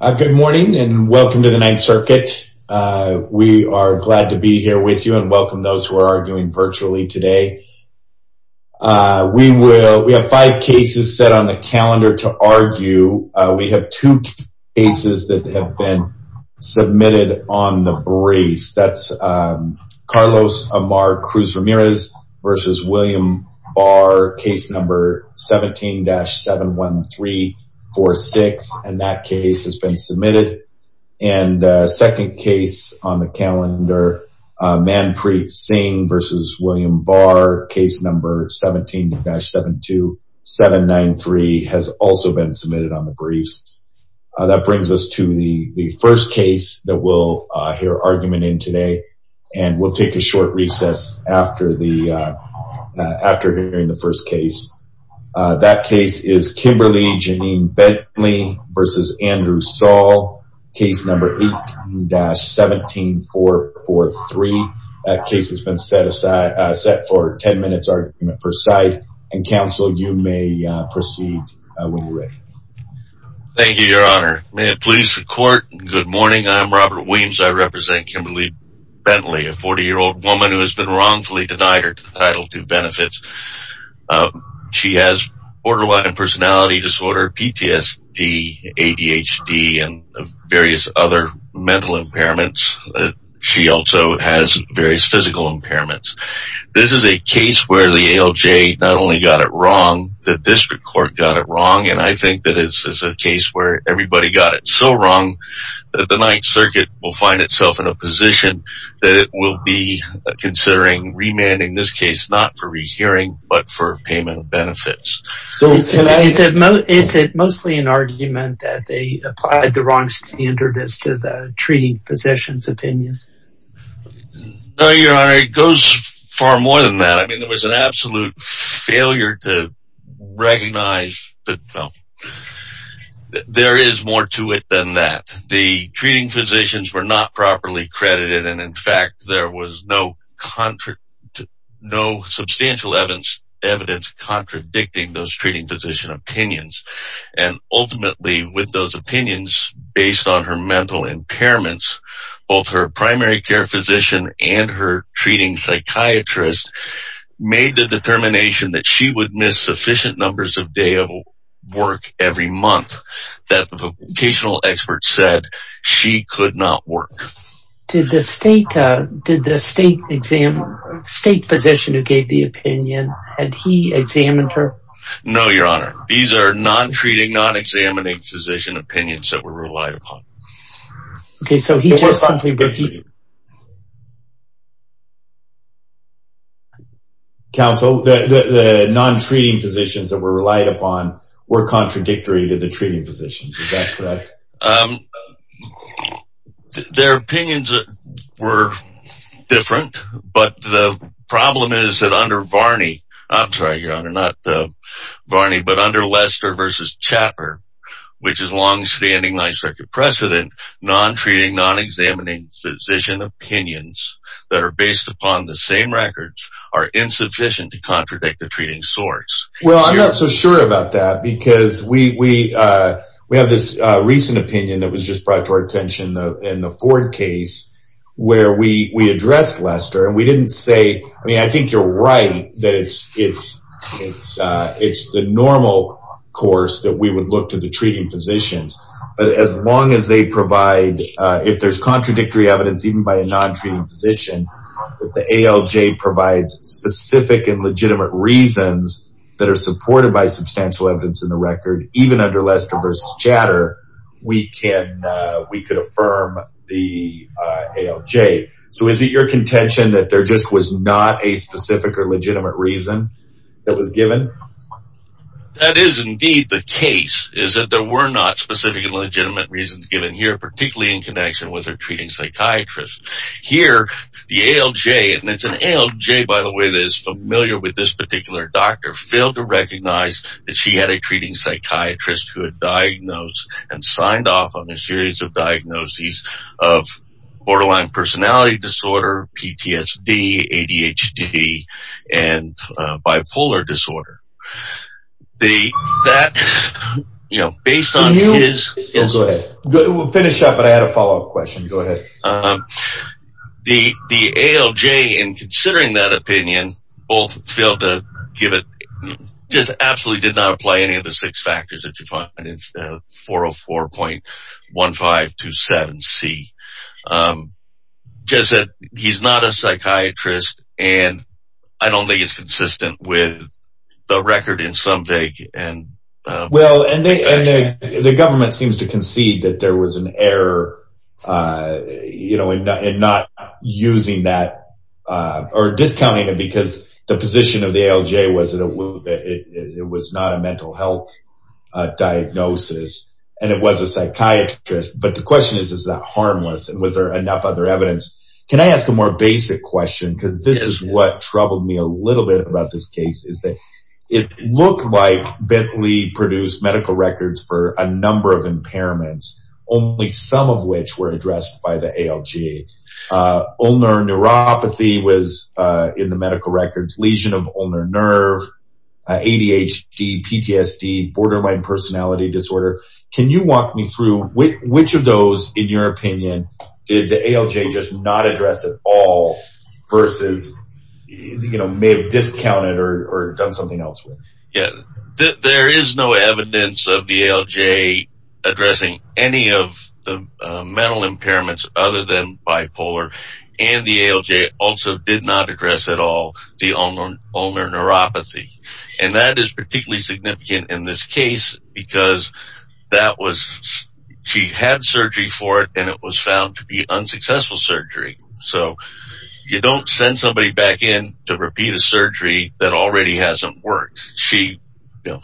Good morning and welcome to the Ninth Circuit. We are glad to be here with you and welcome those who are arguing virtually today. We have five cases set on the calendar to argue. We have two cases that have been submitted on the briefs. That's Carlos Amar Cruz Ramirez v. William Barr, case number 17-71346, and that case has been submitted. And second case on the calendar, Manpreet Singh v. William Barr, case number 17-72793 has also been submitted on the briefs. That brings us to the first case that we'll hear argument in today, and we'll take a short recess after hearing the first case. That case is Kimberley Janine Bentley v. Andrew Saul, case number 18-17443. That case has been set for 10 minutes argument per side, and counsel, you may proceed when you're ready. Thank you, your honor. May it please the court, good morning. I'm Robert Williams. I represent Kimberley Bentley, a 40-year-old woman who has been wrongfully denied her Title II benefits. She has borderline personality disorder, PTSD, ADHD, and various other mental impairments. She also has various physical impairments. This is a case where the ALJ not only got it wrong, the district court got it wrong, and I think that this is a case where everybody got it so wrong that the Ninth Circuit will find itself in a position that it will be considering remanding this case, not for rehearing, but for payment of benefits. Is it mostly an argument that they applied the wrong standard as to the treaty position's opinions? No, your honor, it goes far more than that. I mean, there was an absolute failure to recognize that there is more to it than that. The treating physicians were not properly credited, and in fact, there was no substantial evidence contradicting those treating physician opinions, and ultimately, with those opinions based on her mental impairments, both her primary care physician and her treating psychiatrist made the determination that she would miss sufficient numbers of day of work every month, that the vocational expert said she could not work. Did the state physician who gave the opinion, had he examined her? No, your honor, these are non-treating, non-examining physician opinions that were relied upon. Counsel, the non-treating physicians that were relied upon were contradictory to the treating physicians, is that correct? Their opinions were different, but the problem is that under Varney, I'm sorry, your honor, not Varney, but under Lester v. Chapper, which is long-standing 9th Circuit precedent, non-treating, non-examining physician opinions that are based upon the same records are insufficient to contradict the treating source. Well, I'm not so sure about that because we have this recent opinion that was just brought to our attention in the Ford case where we addressed Lester, and we didn't say, I mean, I think you're right that it's the normal course that we would look to the treating physicians, but as long as they provide, if there's contradictory evidence even by a non-treating physician, that the ALJ provides specific and legitimate reasons that are supported by substantial evidence in the record, even under Lester v. Chapper, we could affirm the ALJ. So is it your contention that there just was not a specific or legitimate reason that was given? That is indeed the case, is that there were not specific and legitimate reasons given here, particularly in connection with a treating psychiatrist. Here, the ALJ, and it's an ALJ, by the way, that is familiar with this particular doctor, failed to recognize that she had a treating psychiatrist who had diagnosed and signed off on a series of diagnoses of borderline personality disorder, PTSD, ADHD, and bipolar disorder. The, that, you know, based on his... Go ahead. We'll finish up, but I had a follow-up question. Go ahead. The ALJ, in considering that opinion, both failed to give it, just absolutely did not apply any of the six factors that you find in 404.1527C, just that he's not a psychiatrist, and I don't think it's consistent with the record in some vague and... Well, and the government seems to concede that there was an error, you know, in not using that, or discounting it, because the position of the ALJ was that it was not a mental health diagnosis, and it was a psychiatrist, but the question is, is that harmless, and was there enough other evidence? Can I ask a more basic question, because this is what troubled me a little bit about this case, is that it looked like Bentley produced medical records for a number of impairments, only some of which were addressed by the ALJ. Ulnar neuropathy was in the medical records, lesion of ulnar nerve, ADHD, PTSD, borderline personality disorder. Can you walk me through which of those, in your opinion, did the ALJ just not address at all, versus, you know, may have discounted or done something else with? Yeah, there is no evidence of the ALJ addressing any of the mental impairments other than bipolar, and the ALJ also did not address at all the ulnar neuropathy, and that is particularly significant in this case, because that was... She had surgery for it, and it was found to be unsuccessful surgery, so you don't send somebody back in to repeat a surgery that already hasn't worked. She, you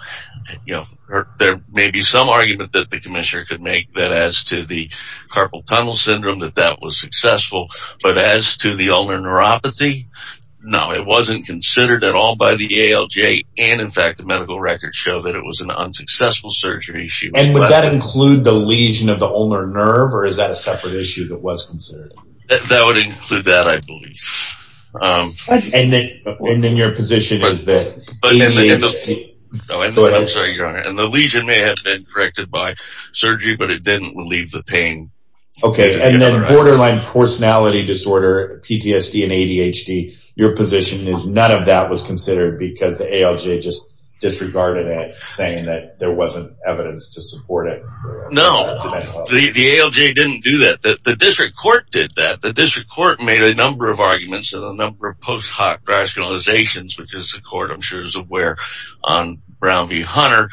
know, there may be some argument that the commissioner could make that as to the carpal tunnel syndrome, that that was successful, but as to the ulnar neuropathy, no, it wasn't considered at all by the ALJ, and in fact, the medical records show that it was an unsuccessful surgery. And would that include the lesion of the ulnar nerve, or is that a separate issue that was considered? That would include that, I believe. And then your position is that ADHD... I'm sorry, Your Honor, and the lesion may have been corrected by surgery, but it didn't relieve the pain. Okay, and then borderline personality disorder, PTSD and ADHD, your position is none of that was considered because the ALJ just disregarded it, saying that there wasn't evidence to support it. No, the ALJ didn't do that. The district court did that. The district court made a number of arguments and a number of post-hoc rationalizations, which the court, I'm sure, is aware, on Brown v. Hunter,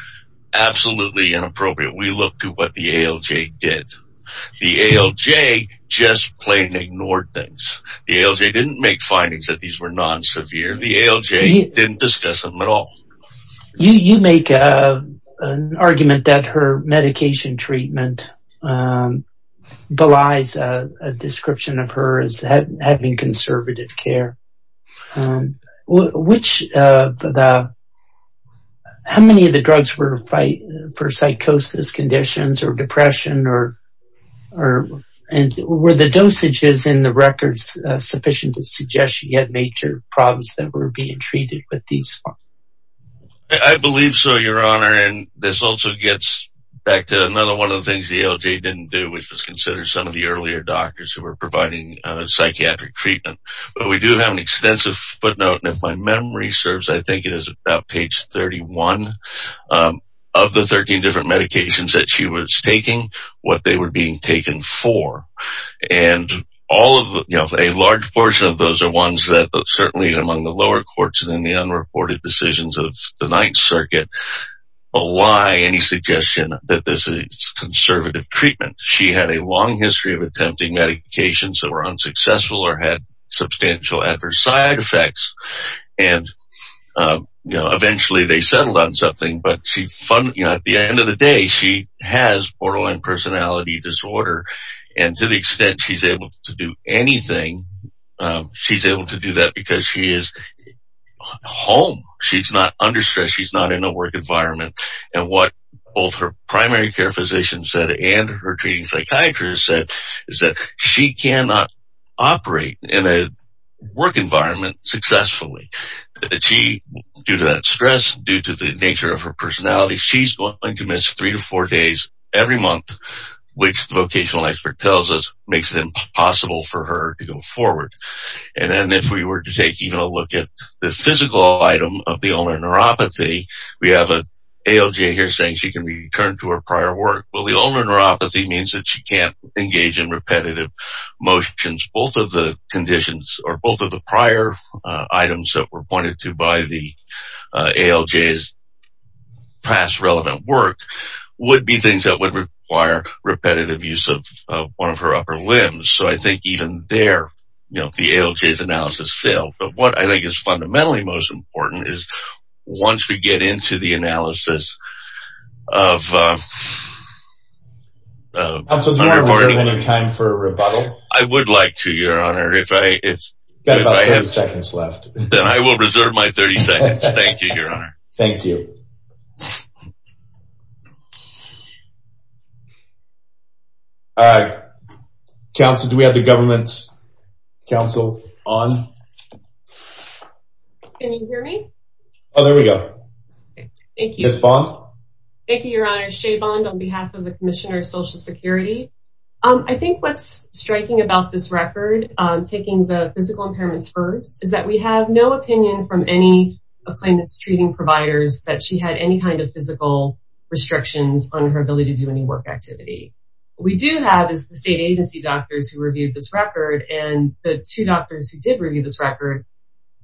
absolutely inappropriate. We looked at what the ALJ did. The ALJ just plain ignored things. The ALJ didn't make findings that these were non-severe. The ALJ didn't discuss them at all. You make an argument that her medication treatment belies a description of her as having conservative care. How many of the drugs were for psychosis conditions or depression, or were the dosages in the records sufficient to suggest that she had major problems that were being treated with these drugs? I believe so, Your Honor, and this also gets back to another one of the things the ALJ didn't do, which was consider some of the earlier doctors who were providing psychiatric treatment. But we do have an extensive footnote, and if my memory serves, I think it is about page 31, of the 13 different medications that she was taking, what they were being taken for. A large portion of those are ones that, certainly among the lower courts and the unreported decisions of the Ninth Circuit, belie any suggestion that this is conservative treatment. She had a long history of attempting medications that were unsuccessful or had substantial adverse side effects. Eventually, they settled on something, but at the end of the day, she has borderline personality disorder, and to the extent she's able to do anything, she's able to do that because she is home. She's not under stress. She's not in a work environment. And what both her primary care physician said and her treating psychiatrist said is that she cannot operate in a work environment successfully. Due to that stress, due to the nature of her personality, she's going to miss three to four days every month, which the vocational expert tells us makes it impossible for her to go forward. And then if we were to take even a look at the physical item of the ulnar neuropathy, we have an ALJ here saying she can return to her prior work. Well, the ulnar neuropathy means that she can't engage in repetitive motions. Both of the conditions or both of the prior items that were pointed to by the ALJ's past relevant work would be things that would require repetitive use of one of her upper limbs. So I think even there, you know, the ALJ's analysis failed. But what I think is fundamentally most important is once we get into the analysis of... Counsel, do you have any time for a rebuttal? I would like to, Your Honor. I've got about 30 seconds left. Then I will reserve my 30 seconds. Thank you, Your Honor. Thank you. Counsel, do we have the government's counsel on? Can you hear me? Oh, there we go. Ms. Bond? Thank you, Your Honor. Shea Bond on behalf of the Commissioner of Social Security. I think what's striking about this record, taking the physical impairments first, is that we have no opinion from any of claimant's treating providers that she had any kind of physical restrictions on her ability to do any work activity. What we do have is the state agency doctors who reviewed this record, and the two doctors who did review this record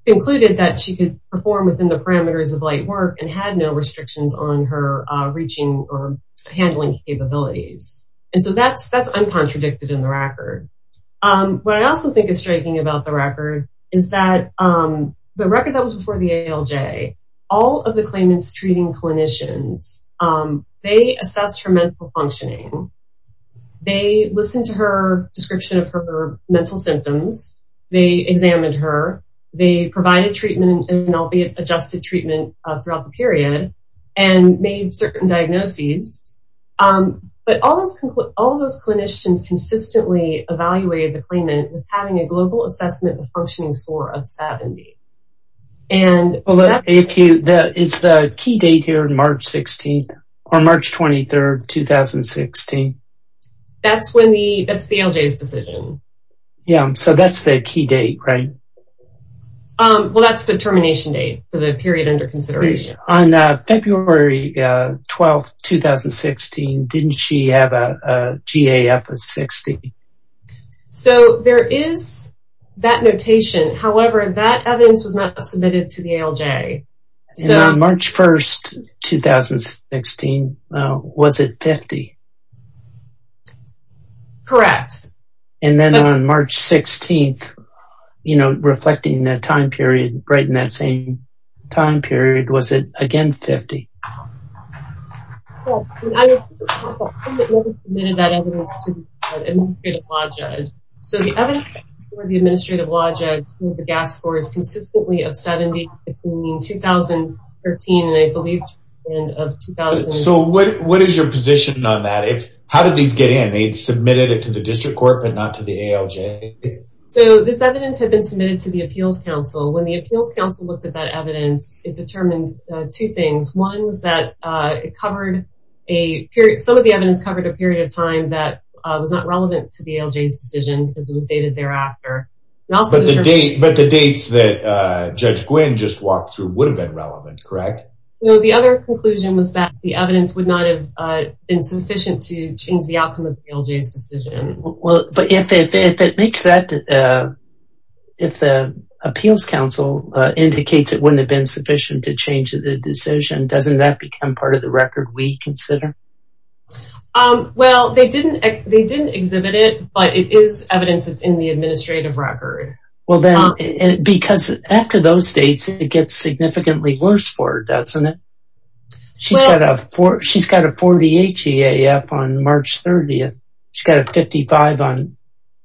concluded that she could perform within the parameters of light work and had no restrictions on her reaching or handling capabilities. And so that's uncontradicted in the record. What I also think is striking about the record is that the record that was before the ALJ, all of the claimant's treating clinicians, they assessed her mental functioning. They listened to her description of her mental symptoms. They examined her. They provided treatment, albeit adjusted treatment, throughout the period and made certain diagnoses. But all those clinicians consistently evaluated the claimant with having a global assessment of functioning score of 70. Is the key date here March 16th or March 23rd, 2016? That's the ALJ's decision. Yeah, so that's the key date, right? Well, that's the termination date for the period under consideration. On February 12th, 2016, didn't she have a GAF of 60? So there is that notation. However, that evidence was not submitted to the ALJ. And on March 1st, 2016, was it 50? Correct. And then on March 16th, reflecting that time period, right in that same time period, was it again 50? Correct. I have never submitted that evidence to the Administrative Law Judge. So the evidence for the Administrative Law Judge for the GAF score is consistently of 70 between 2013 and I believe to the end of 2013. So what is your position on that? How did these get in? They submitted it to the District Court but not to the ALJ? So this evidence had been submitted to the Appeals Council. When the Appeals Council looked at that evidence, it determined two things. One was that some of the evidence covered a period of time that was not relevant to the ALJ's decision because it was dated thereafter. But the dates that Judge Gwynne just walked through would have been relevant, correct? The other conclusion was that the evidence would not have been sufficient to change the outcome of the ALJ's decision. But if the Appeals Council indicates it wouldn't have been sufficient to change the decision, doesn't that become part of the record we consider? Well, they didn't exhibit it, but it is evidence that's in the administrative record. Because after those dates, it gets significantly worse for her, doesn't it? She's got a 48 GAF on March 30th. She's got a 55 on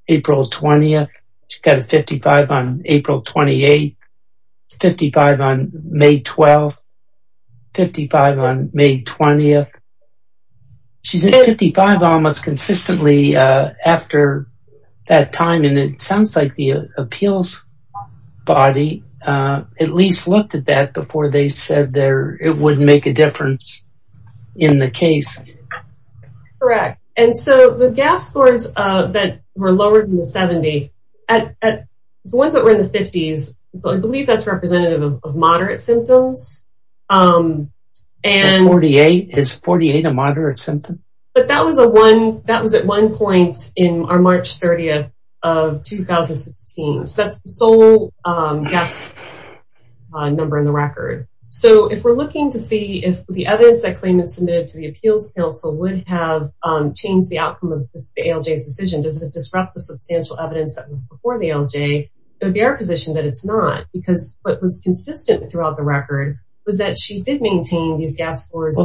April 20th. She's got a 55 on April 28th. She's got a 55 on May 12th. She's got a 55 on May 20th. She's at 55 almost consistently after that time, and it sounds like the appeals body at least looked at that before they said it would make a difference in the case. Correct. And so the GAF scores that were lower than the 70, the ones that were in the 50s, I believe that's representative of moderate symptoms. Is 48 a moderate symptom? But that was at one point on March 30th of 2016. So that's the sole GAF number in the record. So if we're looking to see if the evidence that claimants submitted to the Appeals Council would have changed the outcome of the ALJ's decision, does it disrupt the substantial evidence that was before the ALJ, it would be our position that it's not, because what was consistent throughout the record was that she did maintain these GAF scores.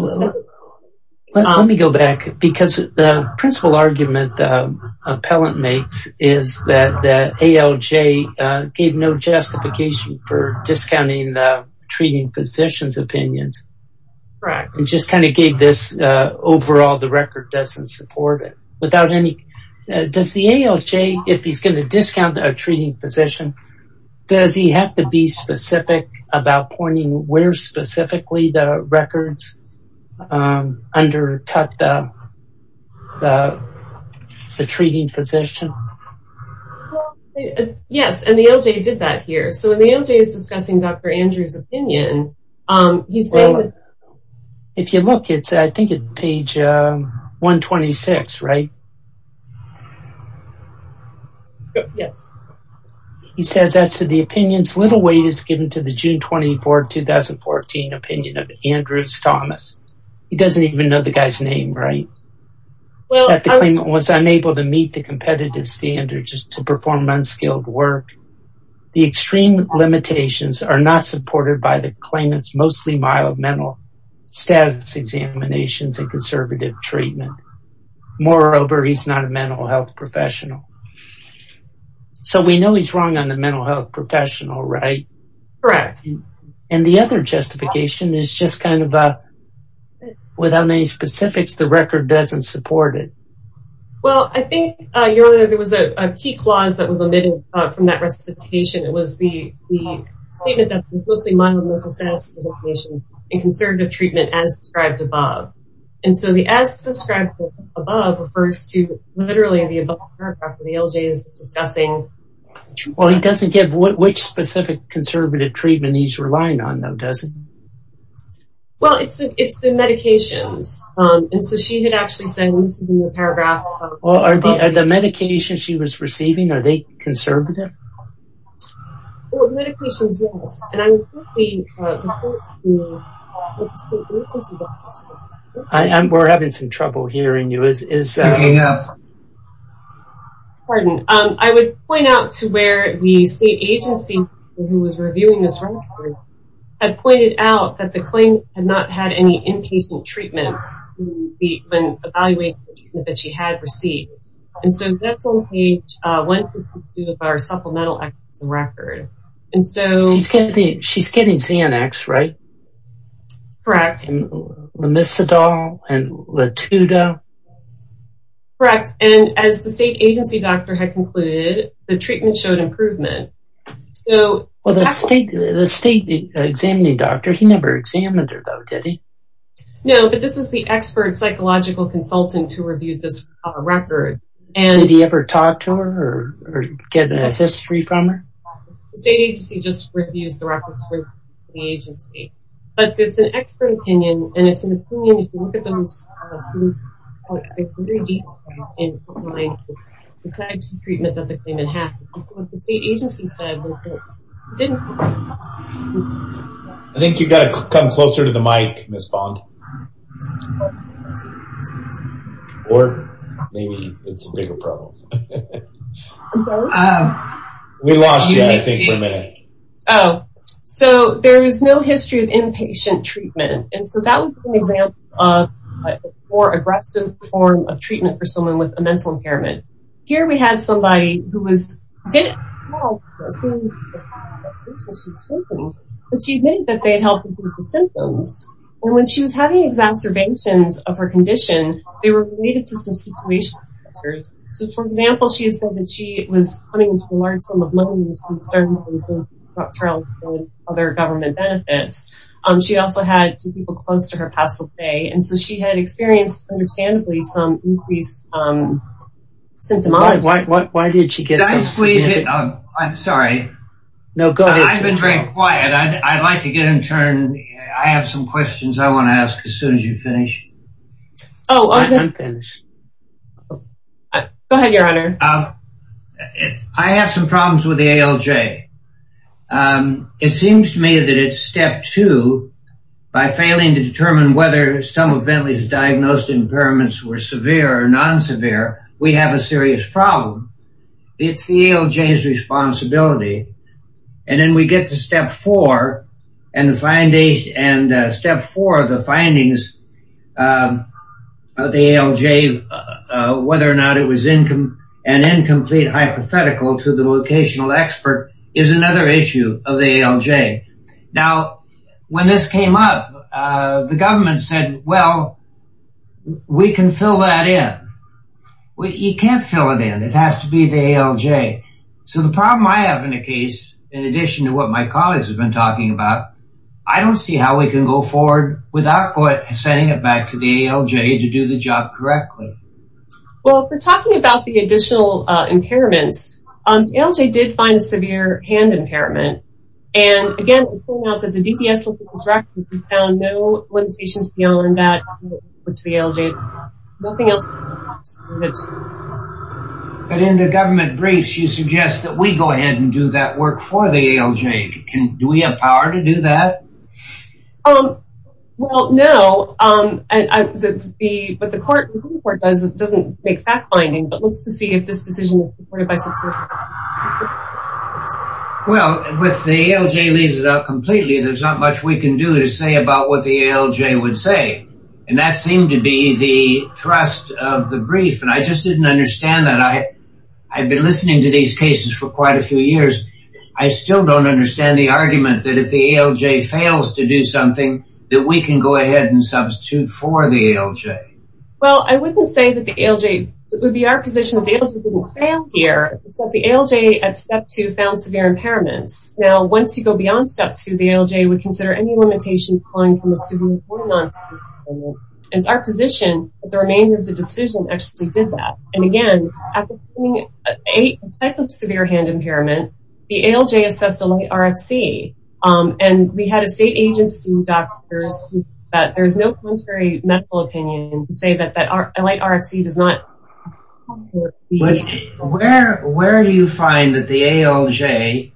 Let me go back, because the principal argument the appellant makes is that the ALJ gave no justification for discounting the treating physician's opinions. Correct. It just kind of gave this overall the record doesn't support it. Does the ALJ, if he's going to discount a treating physician, does he have to be specific about pointing where specifically the records undercut the treating physician? Yes, and the ALJ did that here. So the ALJ is discussing Dr. Andrews' opinion. If you look, I think it's page 126, right? Yes. He says, as to the opinions, little weight is given to the June 24, 2014 opinion of Andrews Thomas. He doesn't even know the guy's name, right? That the claimant was unable to meet the competitive standards to perform unskilled work. The extreme limitations are not supported by the claimant's mostly mild mental status examinations and conservative treatment. Moreover, he's not a mental health professional. So we know he's wrong on the mental health professional, right? Correct. And the other justification is just kind of without any specifics, the record doesn't support it. Well, I think there was a key clause that was omitted from that recitation. It was the statement that was mostly mild mental status examinations and conservative treatment as described above. And so the as described above refers to literally the above paragraph where the ALJ is discussing. Well, he doesn't give which specific conservative treatment he's relying on, though, does he? Well, it's the medications. And so she had actually said, well, this is in the paragraph. Well, are the medications she was receiving, are they conservative? We're having some trouble hearing you. Pardon. I would point out to where the state agency, who was reviewing this record, had pointed out that the claim had not had any inpatient treatment when evaluating the treatment that she had received. And so dental page 152 of our supplemental records. She's getting Xanax, right? Correct. And Lamisadol and Latuda? Correct. And as the state agency doctor had concluded, the treatment showed improvement. Well, the state examining doctor, he never examined her, though, did he? No, but this is the expert psychological consultant who reviewed this record. Did he ever talk to her or get a history from her? The state agency just reviews the records for the agency. But it's an expert opinion, and it's an opinion if you look at those... ...the types of treatment that the claimant had. What the state agency said was that it didn't... I think you've got to come closer to the mic, Ms. Bond. Or maybe it's a bigger problem. I'm sorry? We lost you, I think, for a minute. Oh. So there is no history of inpatient treatment. And so that was an example of a more aggressive form of treatment for someone with a mental impairment. Here we had somebody who was... ...but she admitted that they had helped improve the symptoms. And when she was having exacerbations of her condition, they were related to some situational factors. So, for example, she said that she was coming to a large sum of money... ...other government benefits. She also had two people close to her past the day. And so she had experienced, understandably, some increased symptomatology. Why did she get so... Can I squeeze in? I'm sorry. No, go ahead. I've been very quiet. I'd like to get in turn. I have some questions I want to ask as soon as you finish. Oh, of this... I'm finished. Go ahead, Your Honor. I have some problems with the ALJ. It seems to me that it's step two. By failing to determine whether some of Bentley's diagnosed impairments were severe or non-severe, we have a serious problem. It's the ALJ's responsibility. And then we get to step four. And step four of the findings of the ALJ, whether or not it was an incomplete hypothetical to the vocational expert, is another issue of the ALJ. Now, when this came up, the government said, well, we can fill that in. You can't fill it in. It has to be the ALJ. So the problem I have in the case, in addition to what my colleagues have been talking about, I don't see how we can go forward without sending it back to the ALJ to do the job correctly. Well, if we're talking about the additional impairments, the ALJ did find a severe hand impairment. And, again, it turned out that the DPS looking at this record found no limitations beyond that, which the ALJ... But in the government briefs, you suggest that we go ahead and do that work for the ALJ. Do we have power to do that? Well, no. But the court doesn't make fact-finding, but looks to see if this decision is supported by... Well, with the ALJ leaves it up completely. There's not much we can do to say about what the ALJ would say. And that seemed to be the thrust of the brief. And I just didn't understand that. I've been listening to these cases for quite a few years. I still don't understand the argument that if the ALJ fails to do something, that we can go ahead and substitute for the ALJ. Well, I wouldn't say that the ALJ... It would be our position that the ALJ didn't fail here. It's that the ALJ at step two found severe impairments. Now, once you go beyond step two, the ALJ would consider any limitations applying from a severe or non-severe impairment. It's our position that the remainder of the decision actually did that. And again, at the beginning, a type of severe hand impairment, the ALJ assessed a light RFC. And we had a state agency, doctors, that there's no contrary medical opinion to say that a light RFC does not... But where do you find that the ALJ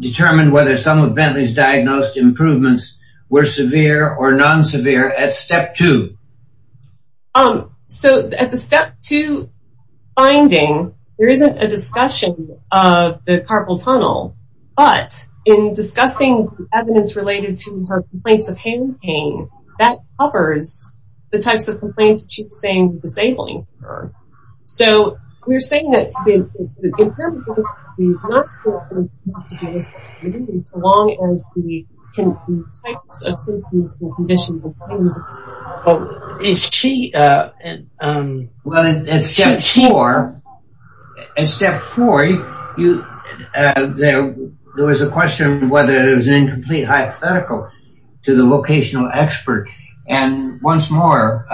determined whether some of Bentley's diagnosed improvements were severe or non-severe at step two? So, at the step two finding, there isn't a discussion of the carpal tunnel. But, in discussing evidence related to her complaints of hand pain, that covers the types of complaints that she's saying were disabling for her. So, we're saying that the impairment doesn't have to be non-severe. It doesn't have to be a misdiagnosis, as long as the types of symptoms and conditions... Well, is she... Well, at step four, there was a question whether it was an incomplete hypothetical to the vocational expert. And once more,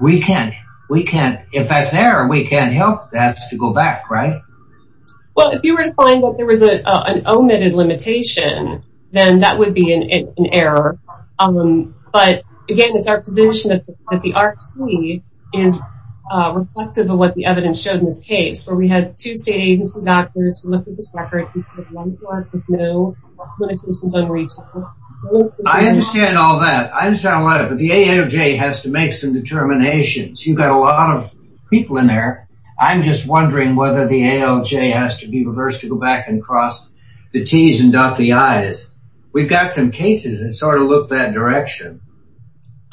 we can't... If that's there, we can't help that to go back, right? Well, if you were to find that there was an omitted limitation, then that would be an error. But, again, it's our position that the RFC is reflective of what the evidence showed in this case. So, we had two state agency doctors who looked at this record. We found one part with no limitations on research. I understand all that. I understand all that. But the ALJ has to make some determinations. You've got a lot of people in there. I'm just wondering whether the ALJ has to be reversed to go back and cross the T's and dot the I's. Because we've got some cases that sort of look that direction.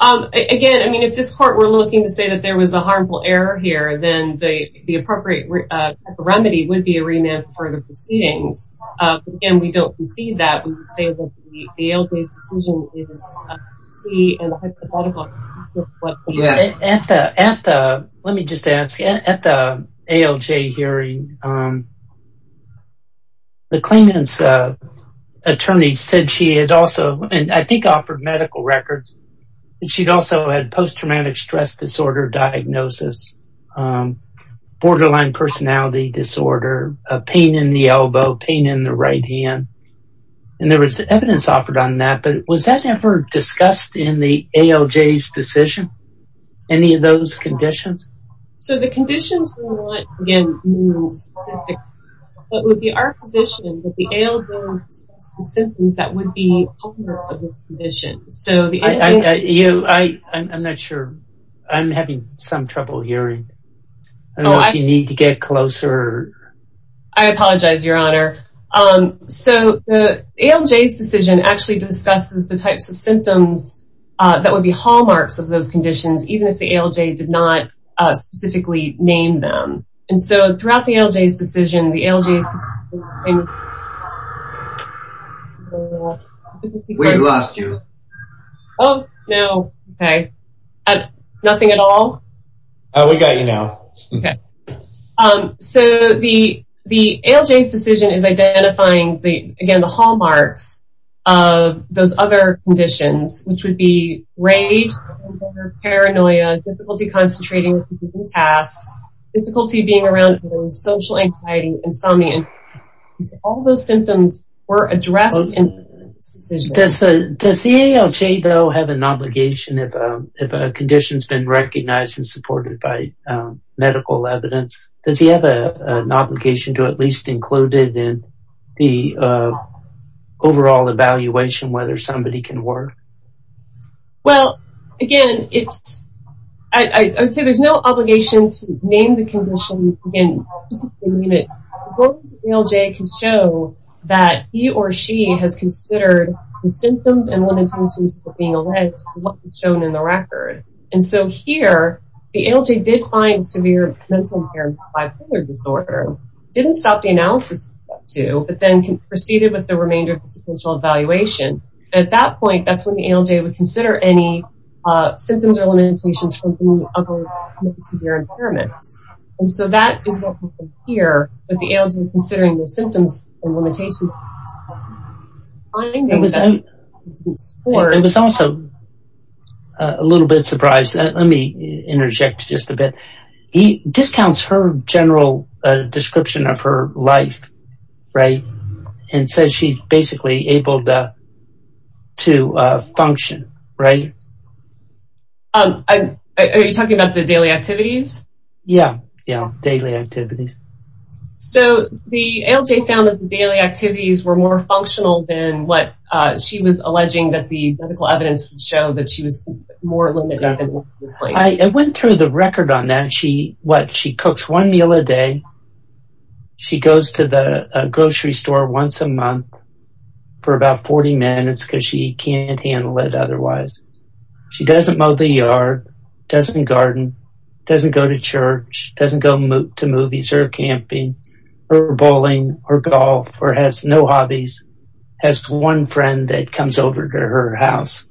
Again, I mean, if this court were looking to say that there was a harmful error here, then the appropriate type of remedy would be a remand for the proceedings. But, again, we don't concede that. We would say that the ALJ's decision is T and the hypothetical... Let me just ask. At the ALJ hearing, the claimant's attorney said she had also, and I think offered medical records, that she'd also had post-traumatic stress disorder diagnosis, borderline personality disorder, pain in the elbow, pain in the right hand. And there was evidence offered on that. But was that ever discussed in the ALJ's decision, any of those conditions? So the conditions we want, again, are specific. But it would be our position that the ALJ would discuss the symptoms that would be adverse to those conditions. I'm not sure. I'm having some trouble hearing. I don't know if you need to get closer. I apologize, Your Honor. So the ALJ's decision actually discusses the types of symptoms that would be hallmarks of those conditions, even if the ALJ did not specifically name them. And so throughout the ALJ's decision, the ALJ's... We lost you. Oh, no. Okay. Nothing at all? We got you now. Okay. So the ALJ's decision is identifying, again, the hallmarks of those other conditions, which would be rage, paranoia, difficulty concentrating on tasks, difficulty being around others, social anxiety, insomnia. All those symptoms were addressed in this decision. Does the ALJ, though, have an obligation if a condition's been recognized and supported by medical evidence? Does he have an obligation to at least include it in the overall evaluation, whether somebody can work? Well, again, it's... I would say there's no obligation to name the condition and specifically name it as long as the ALJ can show that he or she has considered the symptoms and limitations of being alleged and what was shown in the record. And so here, the ALJ did find severe mental impairment bipolar disorder, didn't stop the analysis of that, too, but then proceeded with the remainder of the sequential evaluation. At that point, that's when the ALJ would consider any symptoms or limitations from other severe impairments. And so that is what happened here, that the ALJ was considering the symptoms and limitations... It was also a little bit surprised. Let me interject just a bit. He discounts her general description of her life, right, and says she's basically able to function, right? Are you talking about the daily activities? Yeah, yeah, daily activities. So the ALJ found that the daily activities were more functional than what she was alleging that the medical evidence would show, that she was more limited than what was stated. I went through the record on that. She cooks one meal a day. She goes to the grocery store once a month for about 40 minutes because she can't handle it otherwise. She doesn't mow the yard, doesn't garden, doesn't go to church, doesn't go to movies or camping or bowling or golf, or has no hobbies, has one friend that comes over to her house,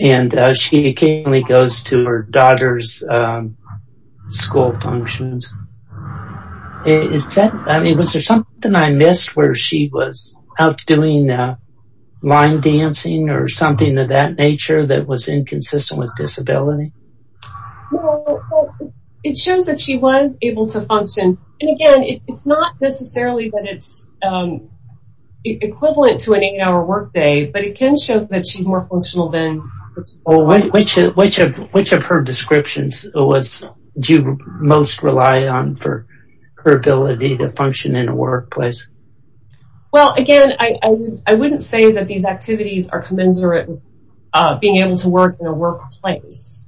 and she occasionally goes to her daughter's school functions. I mean, was there something I missed where she was out doing line dancing or something of that nature that was inconsistent with disability? Well, it shows that she was able to function. And again, it's not necessarily that it's equivalent to an eight-hour workday, but it can show that she's more functional than... Which of her descriptions do you most rely on for her ability to function in a workplace? Well, again, I wouldn't say that these activities are commensurate with being able to work in a workplace,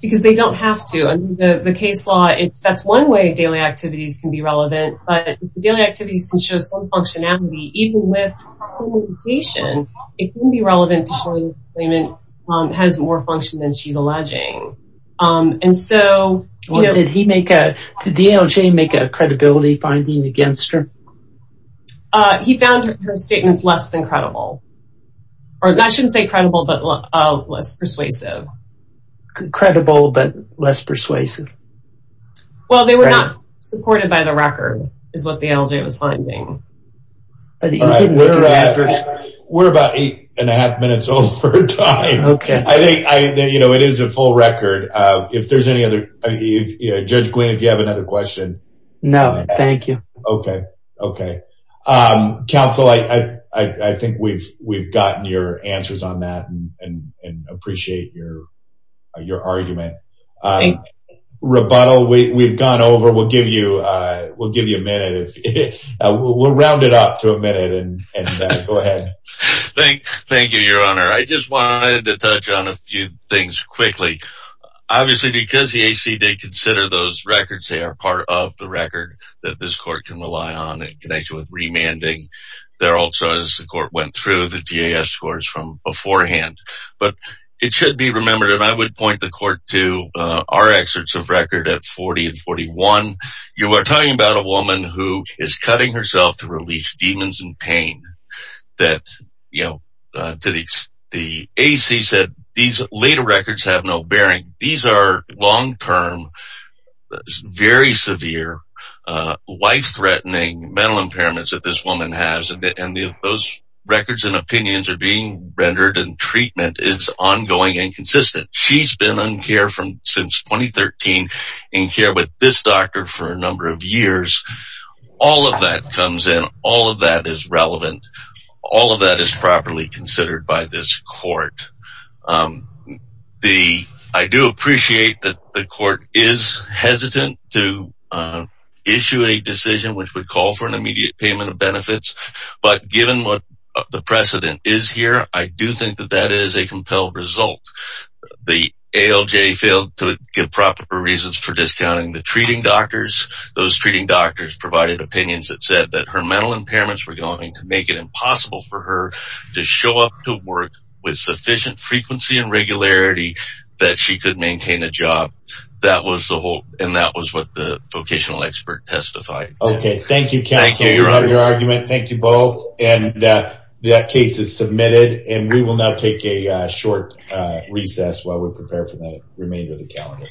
because they don't have to. Under the case law, that's one way daily activities can be relevant, but daily activities can show some functionality. Even with some limitation, it can be relevant to show that the claimant has more function than she's alleging. Did the ALJ make a credibility finding against her? He found her statements less than credible. Or I shouldn't say credible, but less persuasive. Credible, but less persuasive. Well, they were not supported by the record, is what the ALJ was finding. All right, we're about eight and a half minutes over time. I think, you know, it is a full record. If there's any other... Judge Gwynne, if you have another question. No, thank you. Okay, okay. Counsel, I think we've gotten your answers on that and appreciate your argument. Thank you. Rebuttal, we've gone over. We'll give you a minute. We'll round it up to a minute and go ahead. Thank you, Your Honor. I just wanted to touch on a few things quickly. Obviously, because the AC did consider those records, they are part of the record that this court can rely on in connection with remanding. There also, as the court went through, the TAS scores from beforehand. But it should be remembered, and I would point the court to our excerpts of record at 40 and 41, you are talking about a woman who is cutting herself to release demons and pain. That, you know, the AC said these later records have no bearing. These are long-term, very severe, life-threatening mental impairments that this woman has. And those records and opinions are being rendered and treatment is ongoing and consistent. She's been in care since 2013, in care with this doctor for a number of years. All of that comes in. All of that is relevant. All of that is properly considered by this court. I do appreciate that the court is hesitant to issue a decision which would call for an immediate payment of benefits. But given what the precedent is here, I do think that that is a compelled result. The ALJ failed to give proper reasons for discounting the treating doctors. Those treating doctors provided opinions that said that her mental impairments were going to make it impossible for her to show up to work with sufficient frequency and regularity that she could maintain a job. That was the whole, and that was what the vocational expert testified. Okay. Thank you, counsel. Thank you. We love your argument. Thank you both. And that case is submitted, and we will now take a short recess while we prepare for the remainder of the calendar.